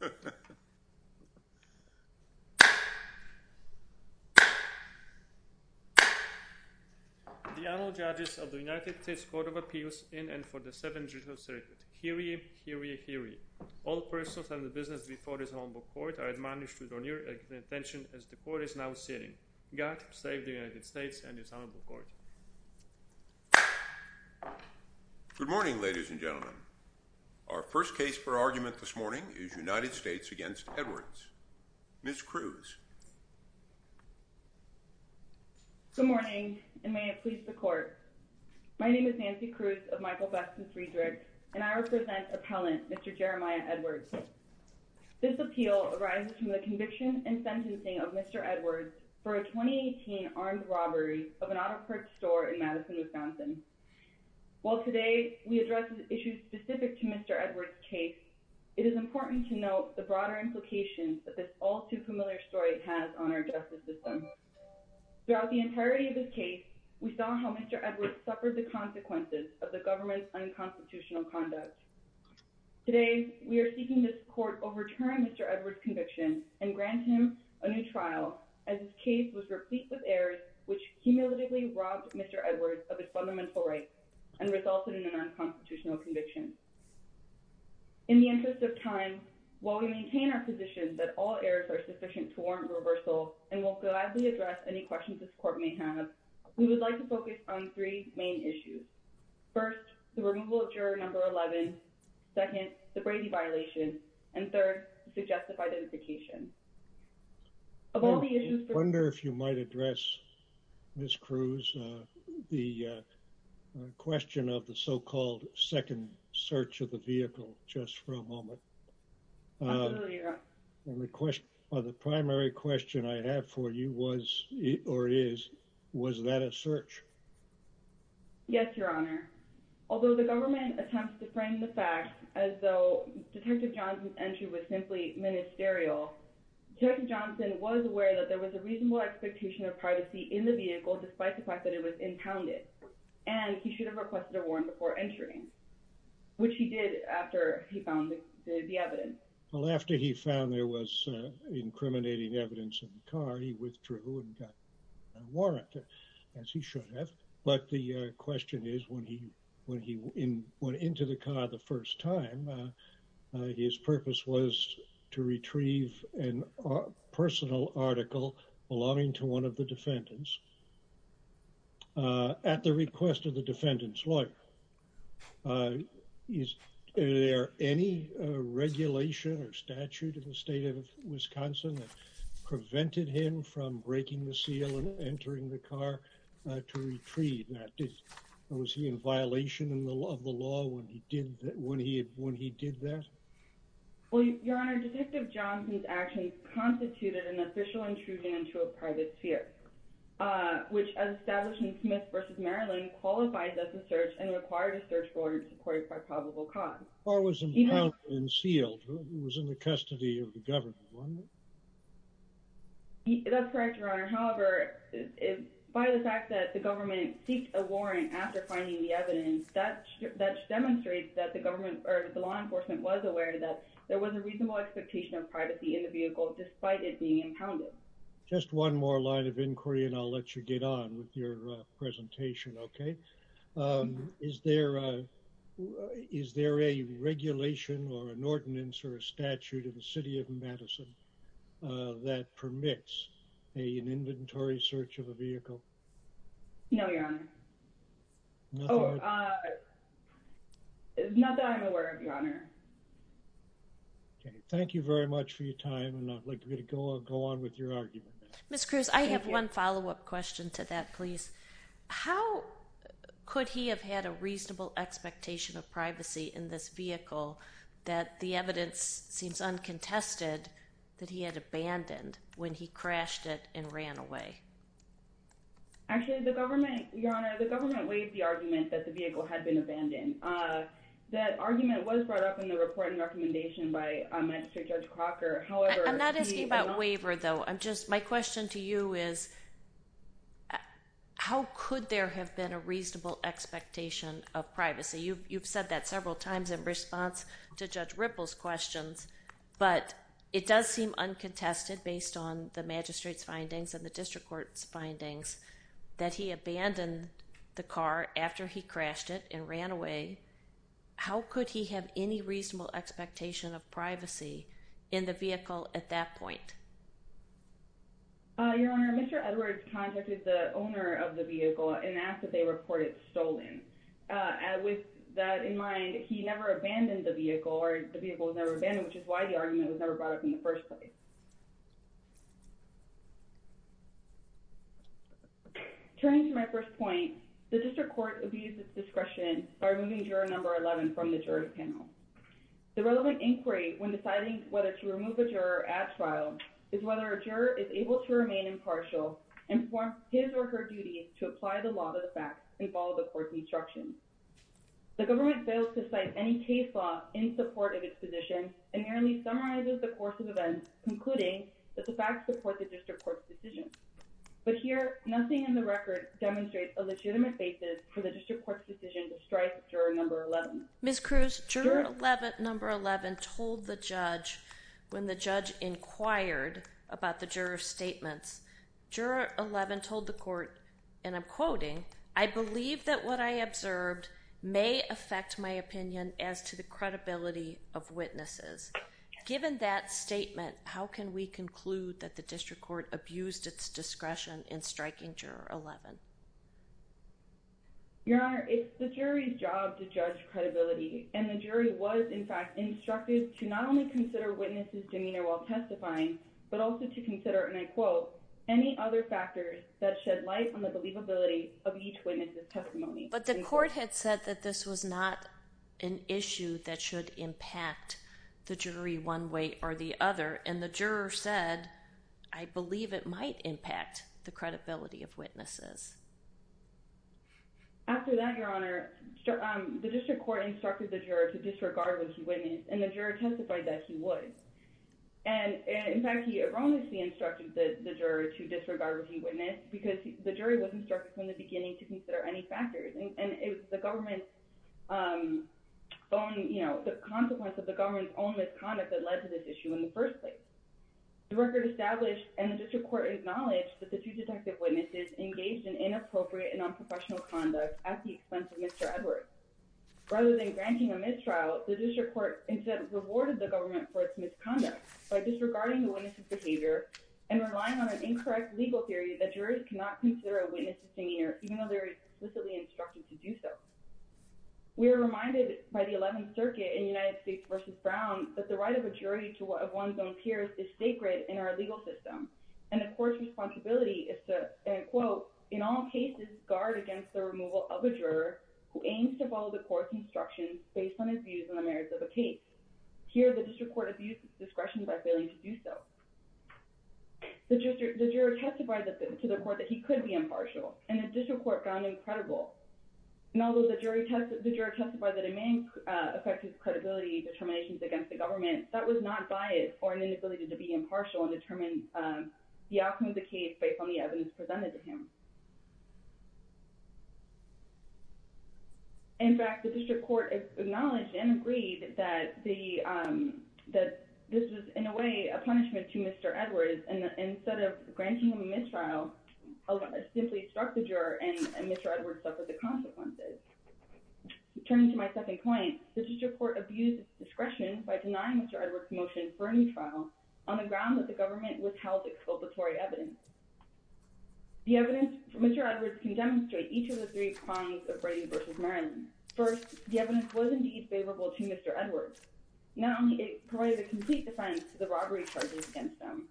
The Honorable Judges of the United States Court of Appeals in and for the Seventh Judicial Circuit. Hear ye, hear ye, hear ye. All persons and the business before this Honorable Court are admonished to turn your attention as the Court is now sitting. God save the United States and this Honorable Court. Good morning, ladies and gentlemen. Our first case for argument this morning is United States v. Edwards. Ms. Cruz. Good morning, and may it please the Court. My name is Nancy Cruz of Michael Besson Friedrich, and I represent Appellant Mr. Jeremiah Edwards. This appeal arises from the conviction and sentencing of Mr. Edwards for a 2018 armed robbery of an auto parts store in Madison, Wisconsin. While today we address issues specific to Mr. Edwards' case, it is important to note the broader implications that this all-too-familiar story has on our justice system. Throughout the entirety of this case, we saw how Mr. Edwards suffered the consequences of the government's unconstitutional conduct. Today we are seeking this Court overturn Mr. Edwards' conviction and grant him a new trial as his case was replete with errors which cumulatively robbed Mr. Edwards of his fundamental rights and resulted in a non-constitutional conviction. In the interest of time, while we maintain our position that all errors are sufficient to warrant reversal, and will gladly address any questions this Court may have, we would like to focus on three main issues. First, the removal of Juror No. 11, second, the Brady violation, and third, the suggestive identification. Of all the issues... I wonder if you might address, Ms. Cruz, the question of the so-called second search of the vehicle, just for a moment. Absolutely, Your Honor. The primary question I have for you was, or is, was that a search? Yes, Your Honor. Although the government attempts to frame the fact as though Detective Johnson's entry was simply ministerial, Detective Johnson was aware that there was a reasonable expectation of privacy in the vehicle despite the fact that it was impounded, and he should have requested a warrant before entering, which he did after he found the evidence. Well, after he found there was incriminating evidence in the car, he withdrew and got a warrant, as he should have, but the question is, when he went into the car the first time, his purpose was to retrieve a personal article belonging to one of the defendants. At the request of the defendant's lawyer, is there any regulation or statute in the state of Wisconsin that prevented him from breaking the seal and entering the car to retrieve that? Was he in violation of the law when he did that? Well, Your Honor, Detective Johnson's actions constituted an official intrusion into a private sphere, which, as established in Smith v. Maryland, qualifies as a search and required a search warrant to be supported by probable cause. The car was impounded and sealed. It was in the custody of the government, wasn't it? That's correct, Your Honor. However, by the fact that the government seeked a warrant after finding the evidence, that demonstrates that the law enforcement was aware that there was a reasonable expectation of privacy in the vehicle despite it being impounded. Just one more line of inquiry and I'll let you get on with your presentation, okay? Is there a regulation or an ordinance or a statute in the City of Madison that permits an inventory search of a vehicle? No, Your Honor. Oh, not that I'm aware of, Your Honor. Okay, thank you very much for your time and I'd like you to go on with your argument. Ms. Cruz, I have one follow-up question to that, please. How could he have had a reasonable expectation of privacy in this vehicle that the evidence seems uncontested that he had abandoned when he crashed it and ran away? Actually, the government, Your Honor, the government waived the argument that the vehicle had been abandoned. That argument was brought up in the report and recommendation by Magistrate Judge Crocker. I'm not asking about waiver, though. I'm just, my question to you is how could there have been a reasonable expectation of privacy? You've said that several times in response to Judge Ripple's questions, but it does seem uncontested based on the magistrate's findings and the district court's findings that he abandoned the car after he crashed it and ran away. How could he have any reasonable expectation of privacy in the vehicle at that point? Your Honor, Mr. Edwards contacted the owner of the vehicle and asked that they report it stolen. With that in mind, he never abandoned the vehicle or the vehicle was never abandoned, which is why the argument was never brought up in the first place. Turning to my first point, the district court abused its discretion by removing juror number 11 from the jury panel. The relevant inquiry when deciding whether to remove a juror at trial is whether a juror is able to remain impartial and perform his or her duty to apply the law to the facts and follow the court's instructions. The government fails to cite any case law in support of its position and merely summarizes the course of events, concluding that the facts support the district court's decision. But here, nothing in the record demonstrates a legitimate basis for the district court's decision to strike juror number 11. Ms. Cruz, juror 11, number 11, told the judge when the judge inquired about the juror's and I'm quoting, I believe that what I observed may affect my opinion as to the credibility of witnesses. Given that statement, how can we conclude that the district court abused its discretion in striking juror 11? Your Honor, it's the jury's job to judge credibility, and the jury was, in fact, instructed to not only consider witnesses' demeanor while testifying, but also to consider, and I quote, any other factors that shed light on the believability of each witness' testimony. But the court had said that this was not an issue that should impact the jury one way or the other, and the juror said, I believe it might impact the credibility of witnesses. After that, Your Honor, the district court instructed the juror to disregard what he witnessed, and the juror testified that he would. And in fact, he erroneously instructed the juror to disregard what he witnessed because the jury was instructed from the beginning to consider any factors, and it was the government's own, you know, the consequence of the government's own misconduct that led to this issue in the first place. The record established and the district court acknowledged that the two detective witnesses engaged in inappropriate and unprofessional conduct at the expense of Mr. Edwards. Rather than granting a mistrial, the district court instead rewarded the government for its misconduct by disregarding the witness' behavior and relying on an incorrect legal theory that jurors cannot consider a witness' disingenuous, even though they are explicitly instructed to do so. We are reminded by the 11th Circuit in United States v. Brown that the right of a jury of one's own peers is sacred in our legal system, and the court's responsibility is to, and quote, in all cases, guard against the removal of a juror who aims to follow the court's instructions based on his views on the merits of a case. Here, the district court abused its discretion by failing to do so. The juror testified to the court that he could be impartial, and the district court found him credible. And although the juror testified that it may affect his credibility determinations against the government, that was not biased or an inability to be impartial and determine the outcome of the case based on the evidence presented to him. In fact, the district court acknowledged and agreed that this was, in a way, a punishment to Mr. Edwards, and instead of granting him a mistrial, simply struck the juror and Mr. Edwards suffered the consequences. Turning to my second point, the district court abused its discretion by denying Mr. Edwards' motion for a new trial on the ground that the government withheld exculpatory evidence. The evidence for Mr. Edwards can demonstrate each of the three crimes of Brady v. Maryland. First, the evidence was indeed favorable to Mr. Edwards. Not only did it provide a complete defense to the robbery charges against them,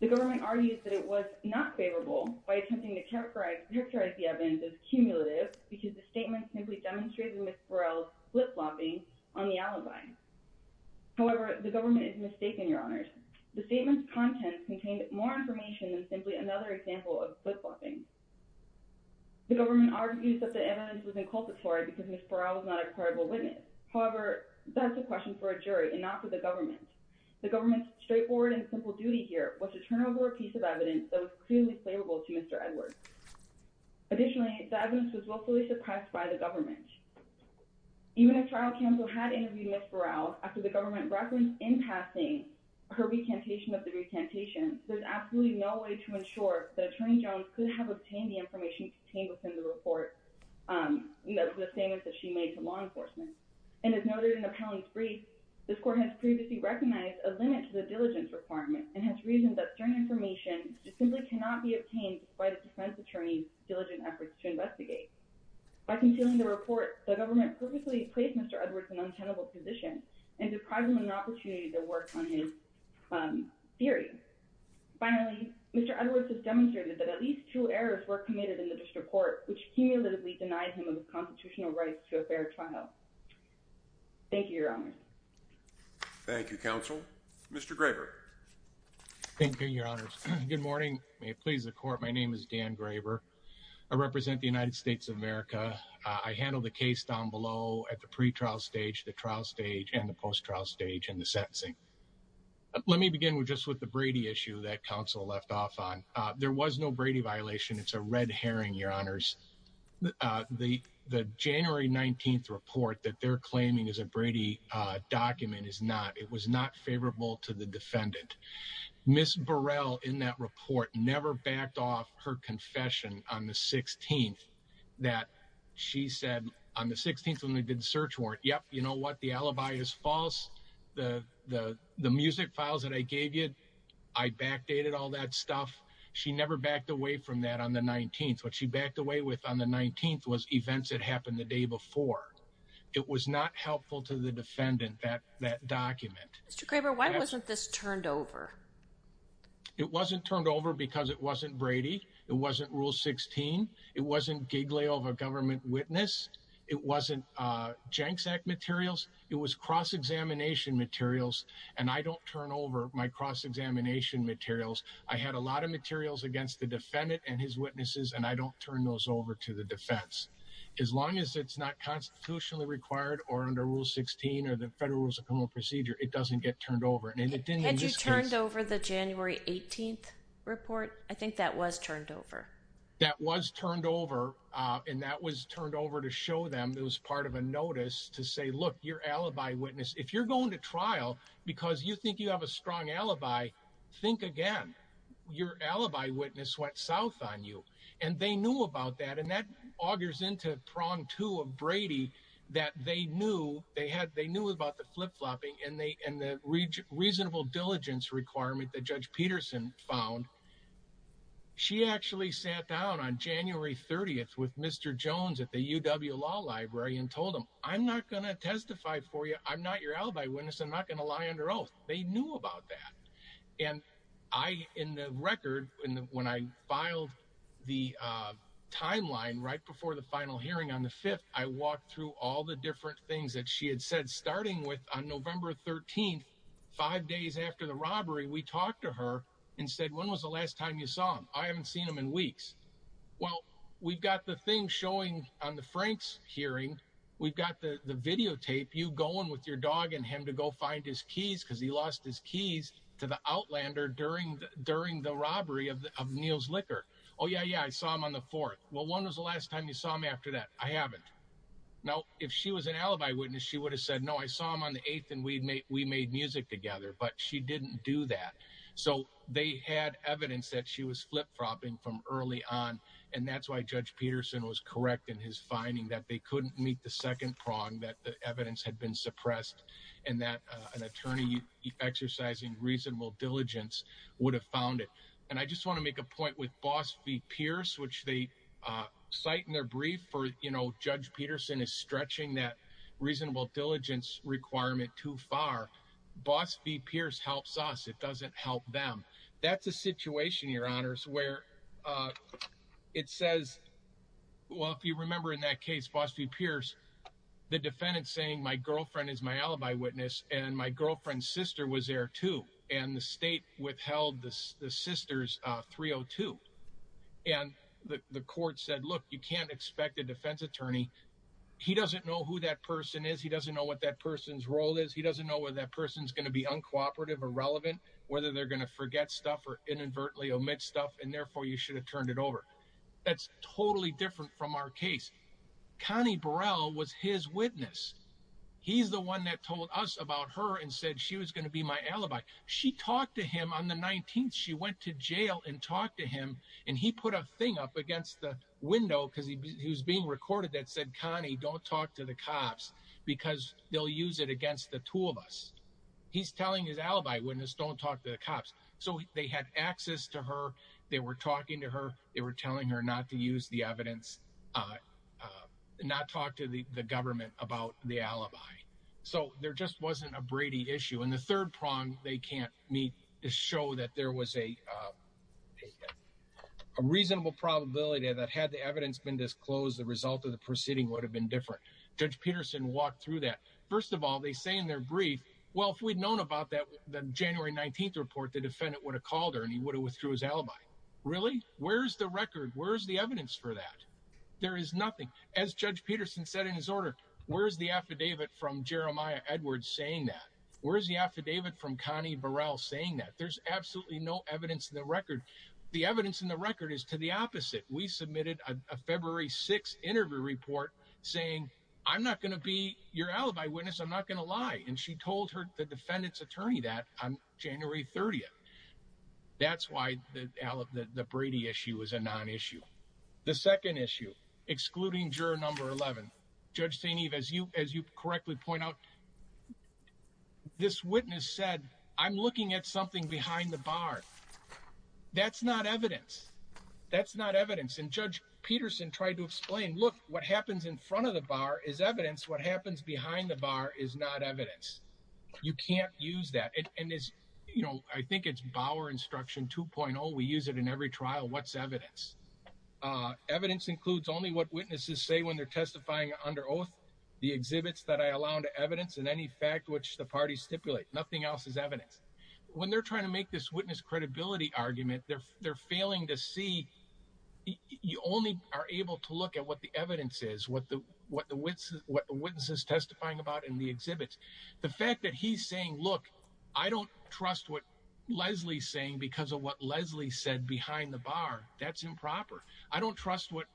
the government argues that it was not favorable by attempting to characterize the evidence as cumulative because the statement simply demonstrated Ms. Burrell's flip-flopping on the alibi. However, the government is mistaken, Your Honors. The statement's content contained more information than simply another example of flip-flopping. The government argues that the evidence was inculpatory because Ms. Burrell was not a credible witness. However, that's a question for a jury and not for the government. The government's straightforward and simple duty here was to turn over a piece of evidence that was clearly favorable to Mr. Edwards. Additionally, the evidence was willfully suppressed by the government. Even if trial counsel had interviewed Ms. Burrell after the government referenced in her recantation of the recantation, there's absolutely no way to ensure that Attorney Jones could have obtained the information contained within the report, the statement that she made to law enforcement. And as noted in the appellant's brief, this court has previously recognized a limit to the diligence requirement and has reasoned that certain information simply cannot be obtained despite a defense attorney's diligent efforts to investigate. By concealing the report, the government purposely placed Mr. Edwards in an untenable position and deprived him of an opportunity to work on his theory. Finally, Mr. Edwards has demonstrated that at least two errors were committed in the district court, which cumulatively denied him of his constitutional rights to a fair trial. Thank you, Your Honors. Thank you, counsel. Mr. Graber. Thank you, Your Honors. Good morning. May it please the court, my name is Dan Graber. I represent the United States of America. I handled the case down below at the pre-trial stage, the trial stage, and the post-trial stage and the sentencing. Let me begin with just with the Brady issue that counsel left off on. There was no Brady violation. It's a red herring, Your Honors. The January 19th report that they're claiming is a Brady document is not. It was not favorable to the defendant. Ms. Burrell, in that report, never backed off her confession on the 16th that she said on the 16th when they did the search warrant, yep, you know what, the alibi is false. The music files that I gave you, I backdated all that stuff. She never backed away from that on the 19th. What she backed away with on the 19th was events that happened the day before. It was not helpful to the defendant, that document. Mr. Graber, why wasn't this turned over? It wasn't turned over because it wasn't Brady. It wasn't Rule 16. It wasn't giggly of a government witness. It wasn't Jenks Act materials. It was cross-examination materials, and I don't turn over my cross-examination materials. I had a lot of materials against the defendant and his witnesses, and I don't turn those over to the defense. As long as it's not constitutionally required or under Rule 16 or the Federal Rules of Order, it doesn't get turned over. Had you turned over the January 18th report? I think that was turned over. That was turned over, and that was turned over to show them it was part of a notice to say, look, your alibi witness, if you're going to trial because you think you have a strong alibi, think again. Your alibi witness went south on you, and they knew about that, and that augers into prong two of Brady that they knew about the flip-flopping and the reasonable diligence requirement that Judge Peterson found. She actually sat down on January 30th with Mr. Jones at the UW Law Library and told him, I'm not going to testify for you. I'm not your alibi witness. I'm not going to lie under oath. They knew about that, and I, in the record, when I filed the timeline right before the trial hearing on the 5th, I walked through all the different things that she had said, starting with on November 13th, five days after the robbery, we talked to her and said, when was the last time you saw him? I haven't seen him in weeks. Well, we've got the thing showing on the Franks hearing. We've got the videotape, you going with your dog and him to go find his keys because he lost his keys to the Outlander during the robbery of Neal's Liquor. Oh, yeah, yeah, I saw him on the 4th. Well, when was the last time you saw him after that? I haven't. Now, if she was an alibi witness, she would have said, no, I saw him on the 8th and we made music together, but she didn't do that. So they had evidence that she was flip-flopping from early on, and that's why Judge Peterson was correct in his finding that they couldn't meet the second prong, that the evidence had been suppressed and that an attorney exercising reasonable diligence would have found it. And I just want to make a point with Boss v. Pierce, which they cite in their brief for, you know, Judge Peterson is stretching that reasonable diligence requirement too far. Boss v. Pierce helps us. It doesn't help them. That's a situation, Your Honors, where it says, well, if you remember in that case, Boss v. Pierce, the defendant saying my girlfriend is my alibi witness and my girlfriend's sister was there too, and the state withheld the sister's 302, and the court said, look, you can't expect a defense attorney. He doesn't know who that person is. He doesn't know what that person's role is. He doesn't know whether that person's going to be uncooperative or relevant, whether they're going to forget stuff or inadvertently omit stuff, and therefore you should have turned it over. That's totally different from our case. Connie Burrell was his witness. He's the one that told us about her and said she was going to be my alibi. She talked to him on the 19th. She went to jail and talked to him, and he put a thing up against the window because he was being recorded that said, Connie, don't talk to the cops because they'll use it against the two of us. He's telling his alibi witness, don't talk to the cops. So they had access to her. They were talking to her. They were telling her not to use the evidence, not talk to the government about the alibi. So there just wasn't a Brady issue. And the third prong they can't meet to show that there was a reasonable probability that had the evidence been disclosed, the result of the proceeding would have been different. Judge Peterson walked through that. First of all, they say in their brief, well, if we'd known about that January 19th report, the defendant would have called her and he would have withdrew his alibi. Really? Where's the record? Where's the evidence for that? There is nothing. As Judge Peterson said in his order, where's the affidavit from Jeremiah Edwards saying that? Where's the affidavit from Connie Burrell saying that? There's absolutely no evidence in the record. The evidence in the record is to the opposite. We submitted a February 6th interview report saying, I'm not going to be your alibi witness. I'm not going to lie. And she told her, the defendant's attorney that on January 30th. That's why the Brady issue is a non-issue. The second issue, excluding juror number 11. Judge St. Eve, as you correctly point out, this witness said, I'm looking at something behind the bar. That's not evidence. That's not evidence. And Judge Peterson tried to explain, look, what happens in front of the bar is evidence. What happens behind the bar is not evidence. You can't use that. And I think it's Bauer instruction 2.0. We use it in every trial. What's evidence? Evidence includes only what witnesses say when they're testifying under oath, the exhibits that I allow to evidence and any fact which the parties stipulate. Nothing else is evidence. When they're trying to make this witness credibility argument, they're failing to see. You only are able to look at what the evidence is, what the witness is testifying about in the exhibits. The fact that he's saying, look, I don't trust what Leslie's saying because of what Leslie said behind the bar. That's improper. I don't trust what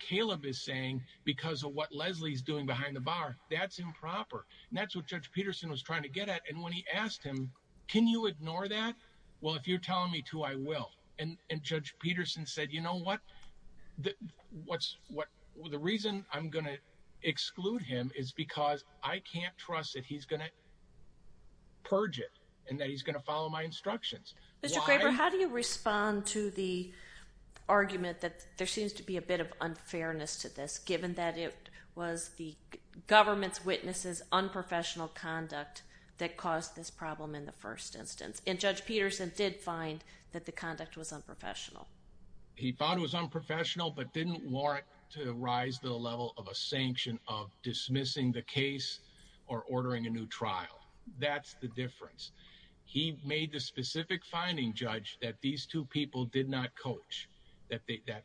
Caleb is saying because of what Leslie's doing behind the bar. That's improper. And that's what Judge Peterson was trying to get at. And when he asked him, can you ignore that? Well, if you're telling me to, I will. And Judge Peterson said, you know what? The reason I'm going to exclude him is because I can't trust that he's going to purge it and that he's going to follow my instructions. Mr. Graber, how do you respond to the argument that there seems to be a bit of unfairness to this, given that it was the government's witnesses' unprofessional conduct that caused this problem in the first instance? And Judge Peterson did find that the conduct was unprofessional. He found it was unprofessional, but didn't warrant to rise to the level of a sanction of dismissing the case or ordering a new trial. That's the difference. He made the specific finding, Judge, that these two people did not coach, that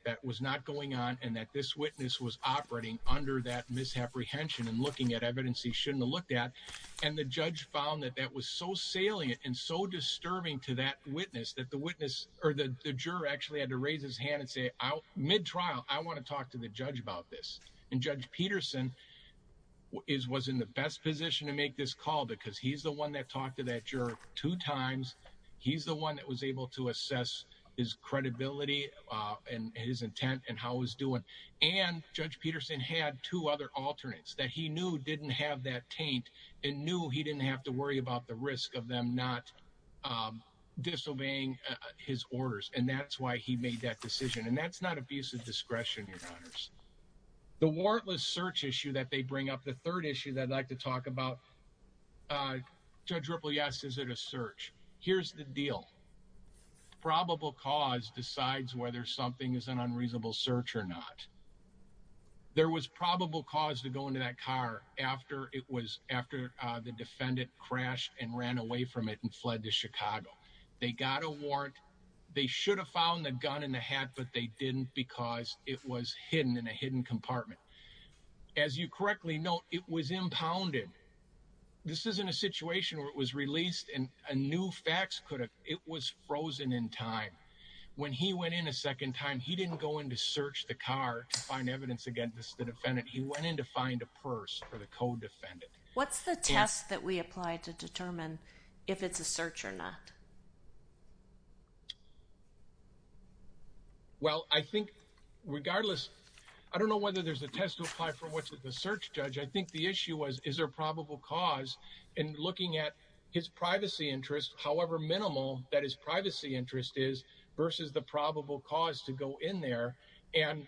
that was not going on and that this witness was operating under that misapprehension and looking at evidence he shouldn't have looked at. And the judge found that that was so salient and so disturbing to that witness that the juror actually had to raise his hand and say, mid-trial, I want to talk to the judge about this. And Judge Peterson was in the best position to make this call because he's the one that talked to that juror two times. He's the one that was able to assess his credibility and his intent and how he was doing. And Judge Peterson had two other alternates that he knew didn't have that taint and knew he didn't have to worry about the risk of them not disobeying his orders. And that's why he made that decision. And that's not abusive discretion, Your Honors. The warrantless search issue that they bring up, the third issue that I'd like to talk about, Judge Ripple, yes, is it a search? Here's the deal. Probable cause decides whether something is an unreasonable search or not. There was probable cause to go into that car after it was, after the defendant crashed and ran away from it and fled to Chicago. They got a warrant. They should have found the gun in the hat, but they didn't because it was hidden in a hidden compartment. As you correctly note, it was impounded. This isn't a situation where it was released and a new fax could have. It was frozen in time. When he went in a second time, he didn't go in to search the car to find evidence against the defendant. He went in to find a purse for the co-defendant. What's the test that we apply to determine if it's a search or not? Well, I think regardless, I don't know whether there's a test to apply for what's at the search, Judge. I think the issue was, is there a probable cause in looking at his privacy interest, however minimal that his privacy interest is versus the probable cause to go in there? And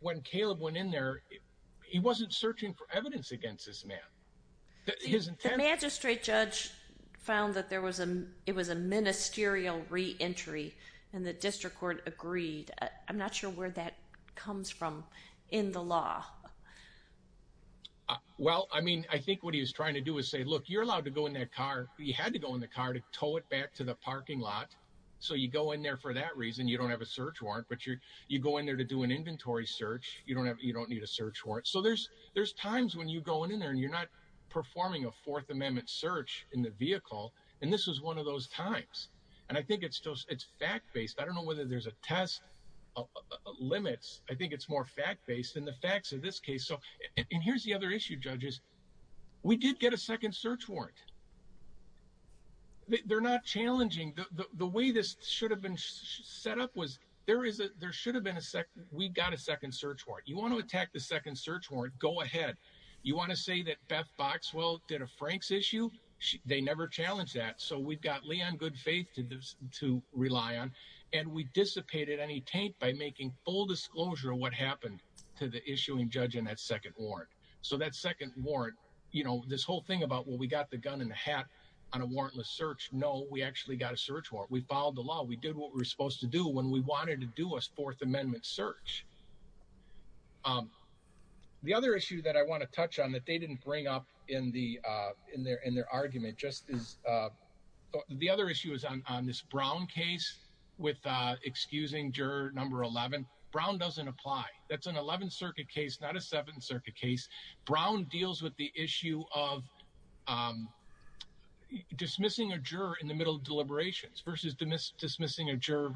when Caleb went in there, he wasn't searching for evidence against this man. The magistrate judge found that it was a ministerial re-entry and the district court agreed. I'm not sure where that comes from in the law. Well, I mean, I think what he was trying to do is say, look, you're allowed to go in that car. You had to go in the car to tow it back to the parking lot. So you go in there for that reason. You don't have a search warrant, but you go in there to do an inventory search. You don't need a search warrant. There's times when you go in there and you're not performing a fourth amendment search in the vehicle. And this was one of those times. And I think it's fact-based. I don't know whether there's a test limits. I think it's more fact-based than the facts in this case. And here's the other issue, judges. We did get a second search warrant. They're not challenging. The way this should have been set up was there should have been a second. We got a second search warrant. You want to attack the second search warrant, go ahead. You want to say that Beth Boxwell did a Frank's issue? They never challenged that. So we've got Leon Goodfaith to rely on. And we dissipated any taint by making full disclosure of what happened to the issuing judge in that second warrant. So that second warrant, you know, this whole thing about, well, we got the gun in the hat on a warrantless search. No, we actually got a search warrant. We followed the law. We did what we were supposed to do when we wanted to do a fourth amendment search. So the other issue that I want to touch on that they didn't bring up in their argument just is the other issue is on this Brown case with excusing juror number 11. Brown doesn't apply. That's an 11th Circuit case, not a 7th Circuit case. Brown deals with the issue of dismissing a juror in the middle of deliberations versus dismissing a juror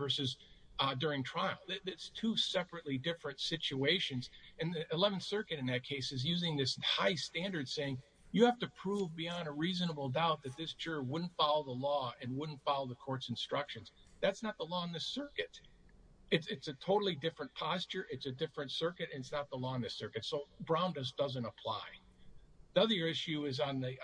during trial. It's two separately different situations. And the 11th Circuit in that case is using this high standard saying you have to prove beyond a reasonable doubt that this juror wouldn't follow the law and wouldn't follow the court's instructions. That's not the law in this circuit. It's a totally different posture. It's a different circuit. It's not the law in this circuit. So Brown just doesn't apply. The other issue is on the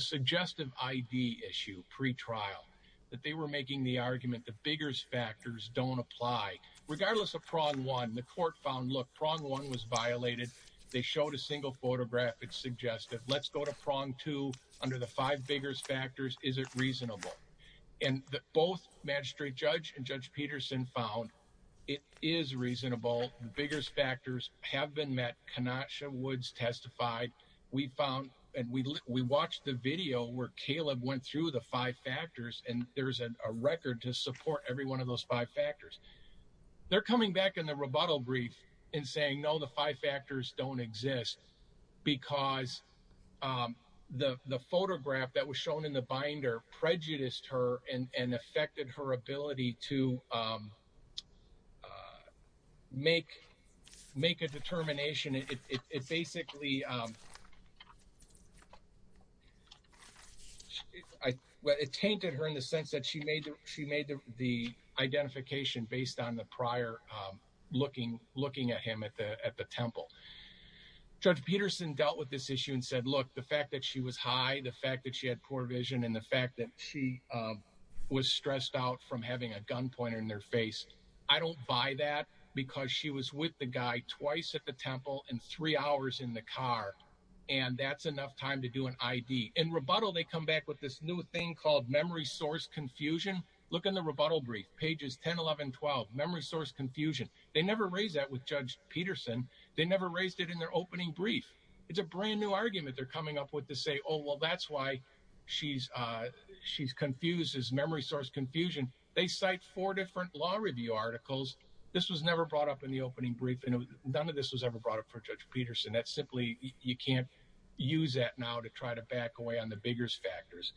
suggestive ID issue pre-trial that they were making the argument the Biggers factors don't apply. Regardless of prong one, the court found, look, prong one was violated. They showed a single photograph. It's suggestive. Let's go to prong two under the five Biggers factors. Is it reasonable? And both Magistrate Judge and Judge Peterson found it is reasonable. The Biggers factors have been met. Kenosha Woods testified. We found and we watched the video where Caleb went through the five factors. And there's a record to support every one of those five factors. They're coming back in the rebuttal brief and saying, no, the five factors don't exist because the photograph that was shown in the binder prejudiced her and affected her ability to make a determination. It basically, it tainted her in the sense that she made the identification based on the prior looking at him at the temple. Judge Peterson dealt with this issue and said, look, the fact that she was high, the fact that she had poor vision and the fact that she was stressed out from having a gun pointer in their face. I don't buy that because she was with the guy twice at the temple and three hours in the car. And that's enough time to do an I.D. In rebuttal, they come back with this new thing called memory source confusion. Look in the rebuttal brief, pages 10, 11, 12, memory source confusion. They never raised that with Judge Peterson. They never raised it in their opening brief. It's a brand new argument they're coming up with to say, oh, well, that's why she's confused as memory source confusion. They cite four different law review articles. This was never brought up in the opening briefing. None of this was ever brought up for Judge Peterson. That's simply, you can't use that now to try to back away on the bigger factors.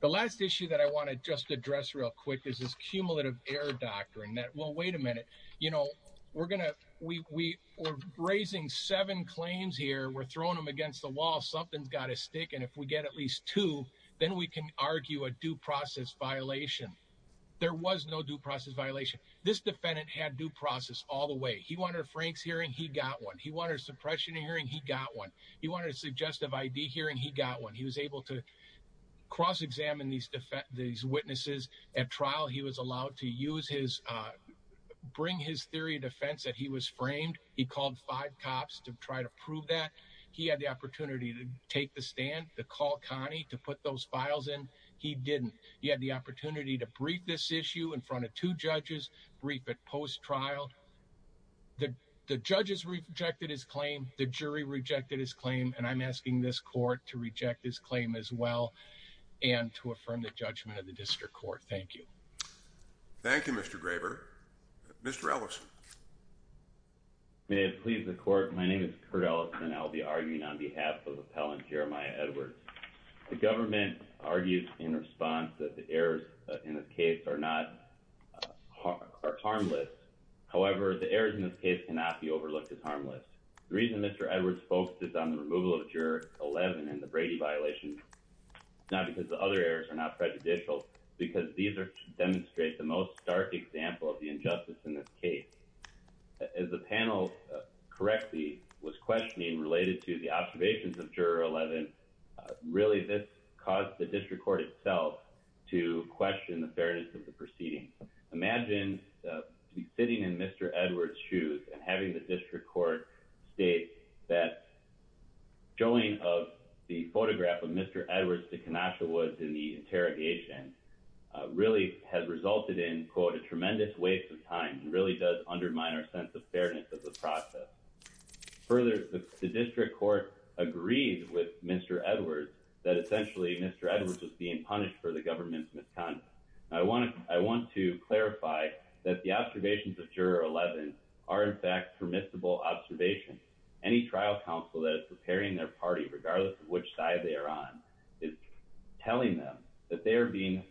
The last issue that I want to just address real quick is this cumulative error doctrine that, well, wait a minute, we're raising seven claims here. We're throwing them against the wall. Something's got to stick. And if we get at least two, then we can argue a due process violation. There was no due process violation. This defendant had due process all the way. He wanted a Frank's hearing. He got one. He wanted a suppression hearing. He got one. He wanted a suggestive ID hearing. He got one. He was able to cross-examine these witnesses at trial. He was allowed to bring his theory of defense that he was framed. He called five cops to try to prove that. He had the opportunity to take the stand, to call Connie to put those files in. He didn't. He had the opportunity to brief this issue in front of two judges, brief it post-trial. The judges rejected his claim. The jury rejected his claim. And I'm asking this court to reject his claim as well and to affirm the judgment of the district court. Thank you. Thank you, Mr. Graber. Mr. Ellison. May it please the court. My name is Curt Ellison. I'll be arguing on behalf of Appellant Jeremiah Edwards. The government argues in response that the errors in this case are not harmless. However, the errors in this case cannot be overlooked as harmless. The reason Mr. Edwards focuses on the removal of Juror 11 and the Brady violation is not because the other errors are not prejudicial. Because these demonstrate the most stark example of the injustice in this case. As the panel correctly was questioning related to the observations of Juror 11, really this caused the district court itself to question the fairness of the proceeding. Imagine sitting in Mr. Edwards' shoes and having the district court state that showing of the photograph of Mr. Edwards to Kenosha Woods in the interrogation really has resulted in, quote, a tremendous waste of time and really does undermine our sense of fairness of the process. Further, the district court agreed with Mr. Edwards that essentially Mr. Edwards was being punished for the government's misconduct. I want to clarify that the observations of Juror 11 are, in fact, permissible observations. Any trial counsel that is preparing their party, regardless of which side they are on, is telling them that they are being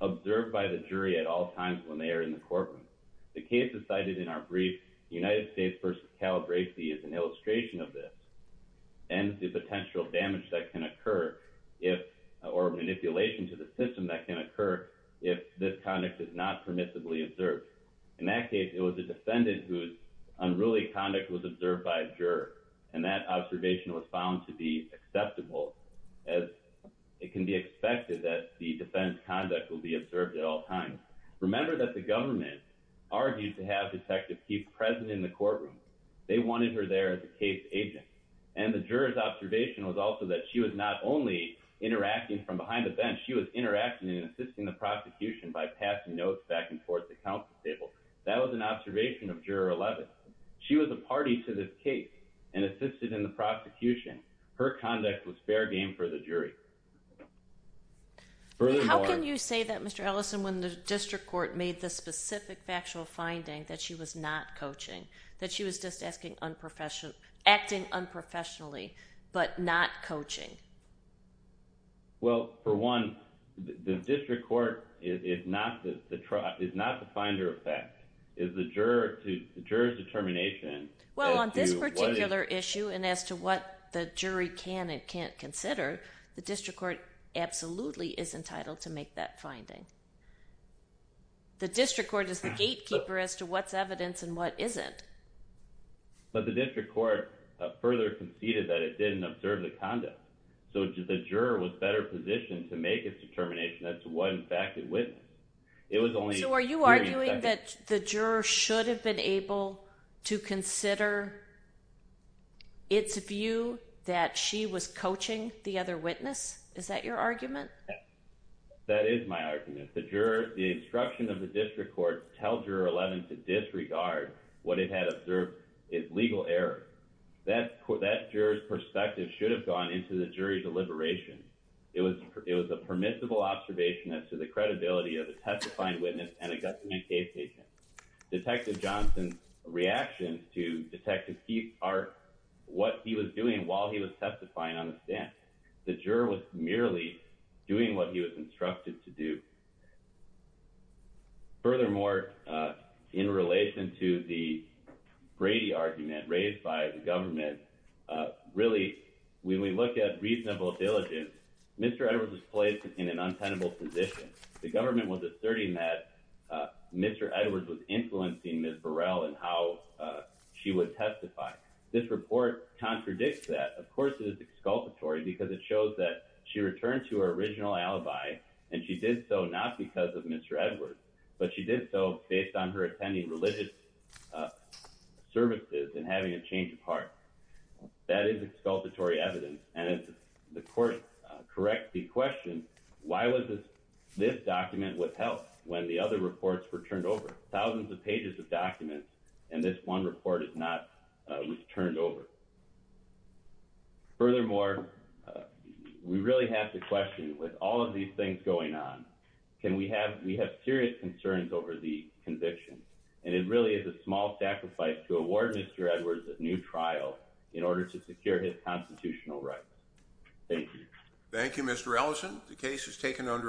observed by the jury at all times when they are in the courtroom. The cases cited in our brief, United States versus Calabresi, is an illustration of this and the potential damage that can occur or manipulation to the system that can occur if this conduct is not permissibly observed. In that case, it was a defendant whose unruly conduct was observed by a juror, and that observation was found to be acceptable as it can be expected that the defendant's conduct will be observed at all times. Remember that the government argued to have Detective Keefe present in the courtroom. They wanted her there as a case agent, and the juror's observation was also that she was not only interacting from behind the bench, she was interacting and assisting the prosecution by passing notes back and forth to counsel tables. That was an observation of Juror 11. She was a party to this case and assisted in the prosecution. Her conduct was fair game for the jury. Furthermore... How can you say that, Mr. Ellison, when the district court made the specific factual finding that she was not coaching, that she was just acting unprofessionally but not coaching? Well, for one, the district court is not the finder of fact. It's the juror's determination as to what... The district court absolutely is entitled to make that finding. The district court is the gatekeeper as to what's evidence and what isn't. But the district court further conceded that it didn't observe the conduct, so the juror was better positioned to make its determination as to what, in fact, it witnessed. It was only... So are you arguing that the juror should have been able to consider its view that she was is that your argument? That is my argument. The juror... The instruction of the district court tells Juror 11 to disregard what it had observed is legal error. That juror's perspective should have gone into the jury's deliberations. It was a permissible observation as to the credibility of a testifying witness and a government case agent. Detective Johnson's reactions to Detective Keefe are what he was doing while he was testifying on the stand. The juror was merely doing what he was instructed to do. Furthermore, in relation to the Brady argument raised by the government, really, when we look at reasonable diligence, Mr. Edwards was placed in an untenable position. The government was asserting that Mr. Edwards was influencing Ms. Burrell in how she would testify. This report contradicts that. Of course, it is exculpatory because it shows that she returned to her original alibi, and she did so not because of Mr. Edwards, but she did so based on her attending religious services and having a change of heart. That is exculpatory evidence. And if the court corrects the question, why was this document withheld when the other reports were turned over? Thousands of pages of documents, and this one report is not turned over. Furthermore, we really have to question, with all of these things going on, can we have serious concerns over the conviction? And it really is a small sacrifice to award Mr. Edwards a new trial in order to secure his constitutional rights. Thank you. Thank you, Mr. Ellison. The case is taken under a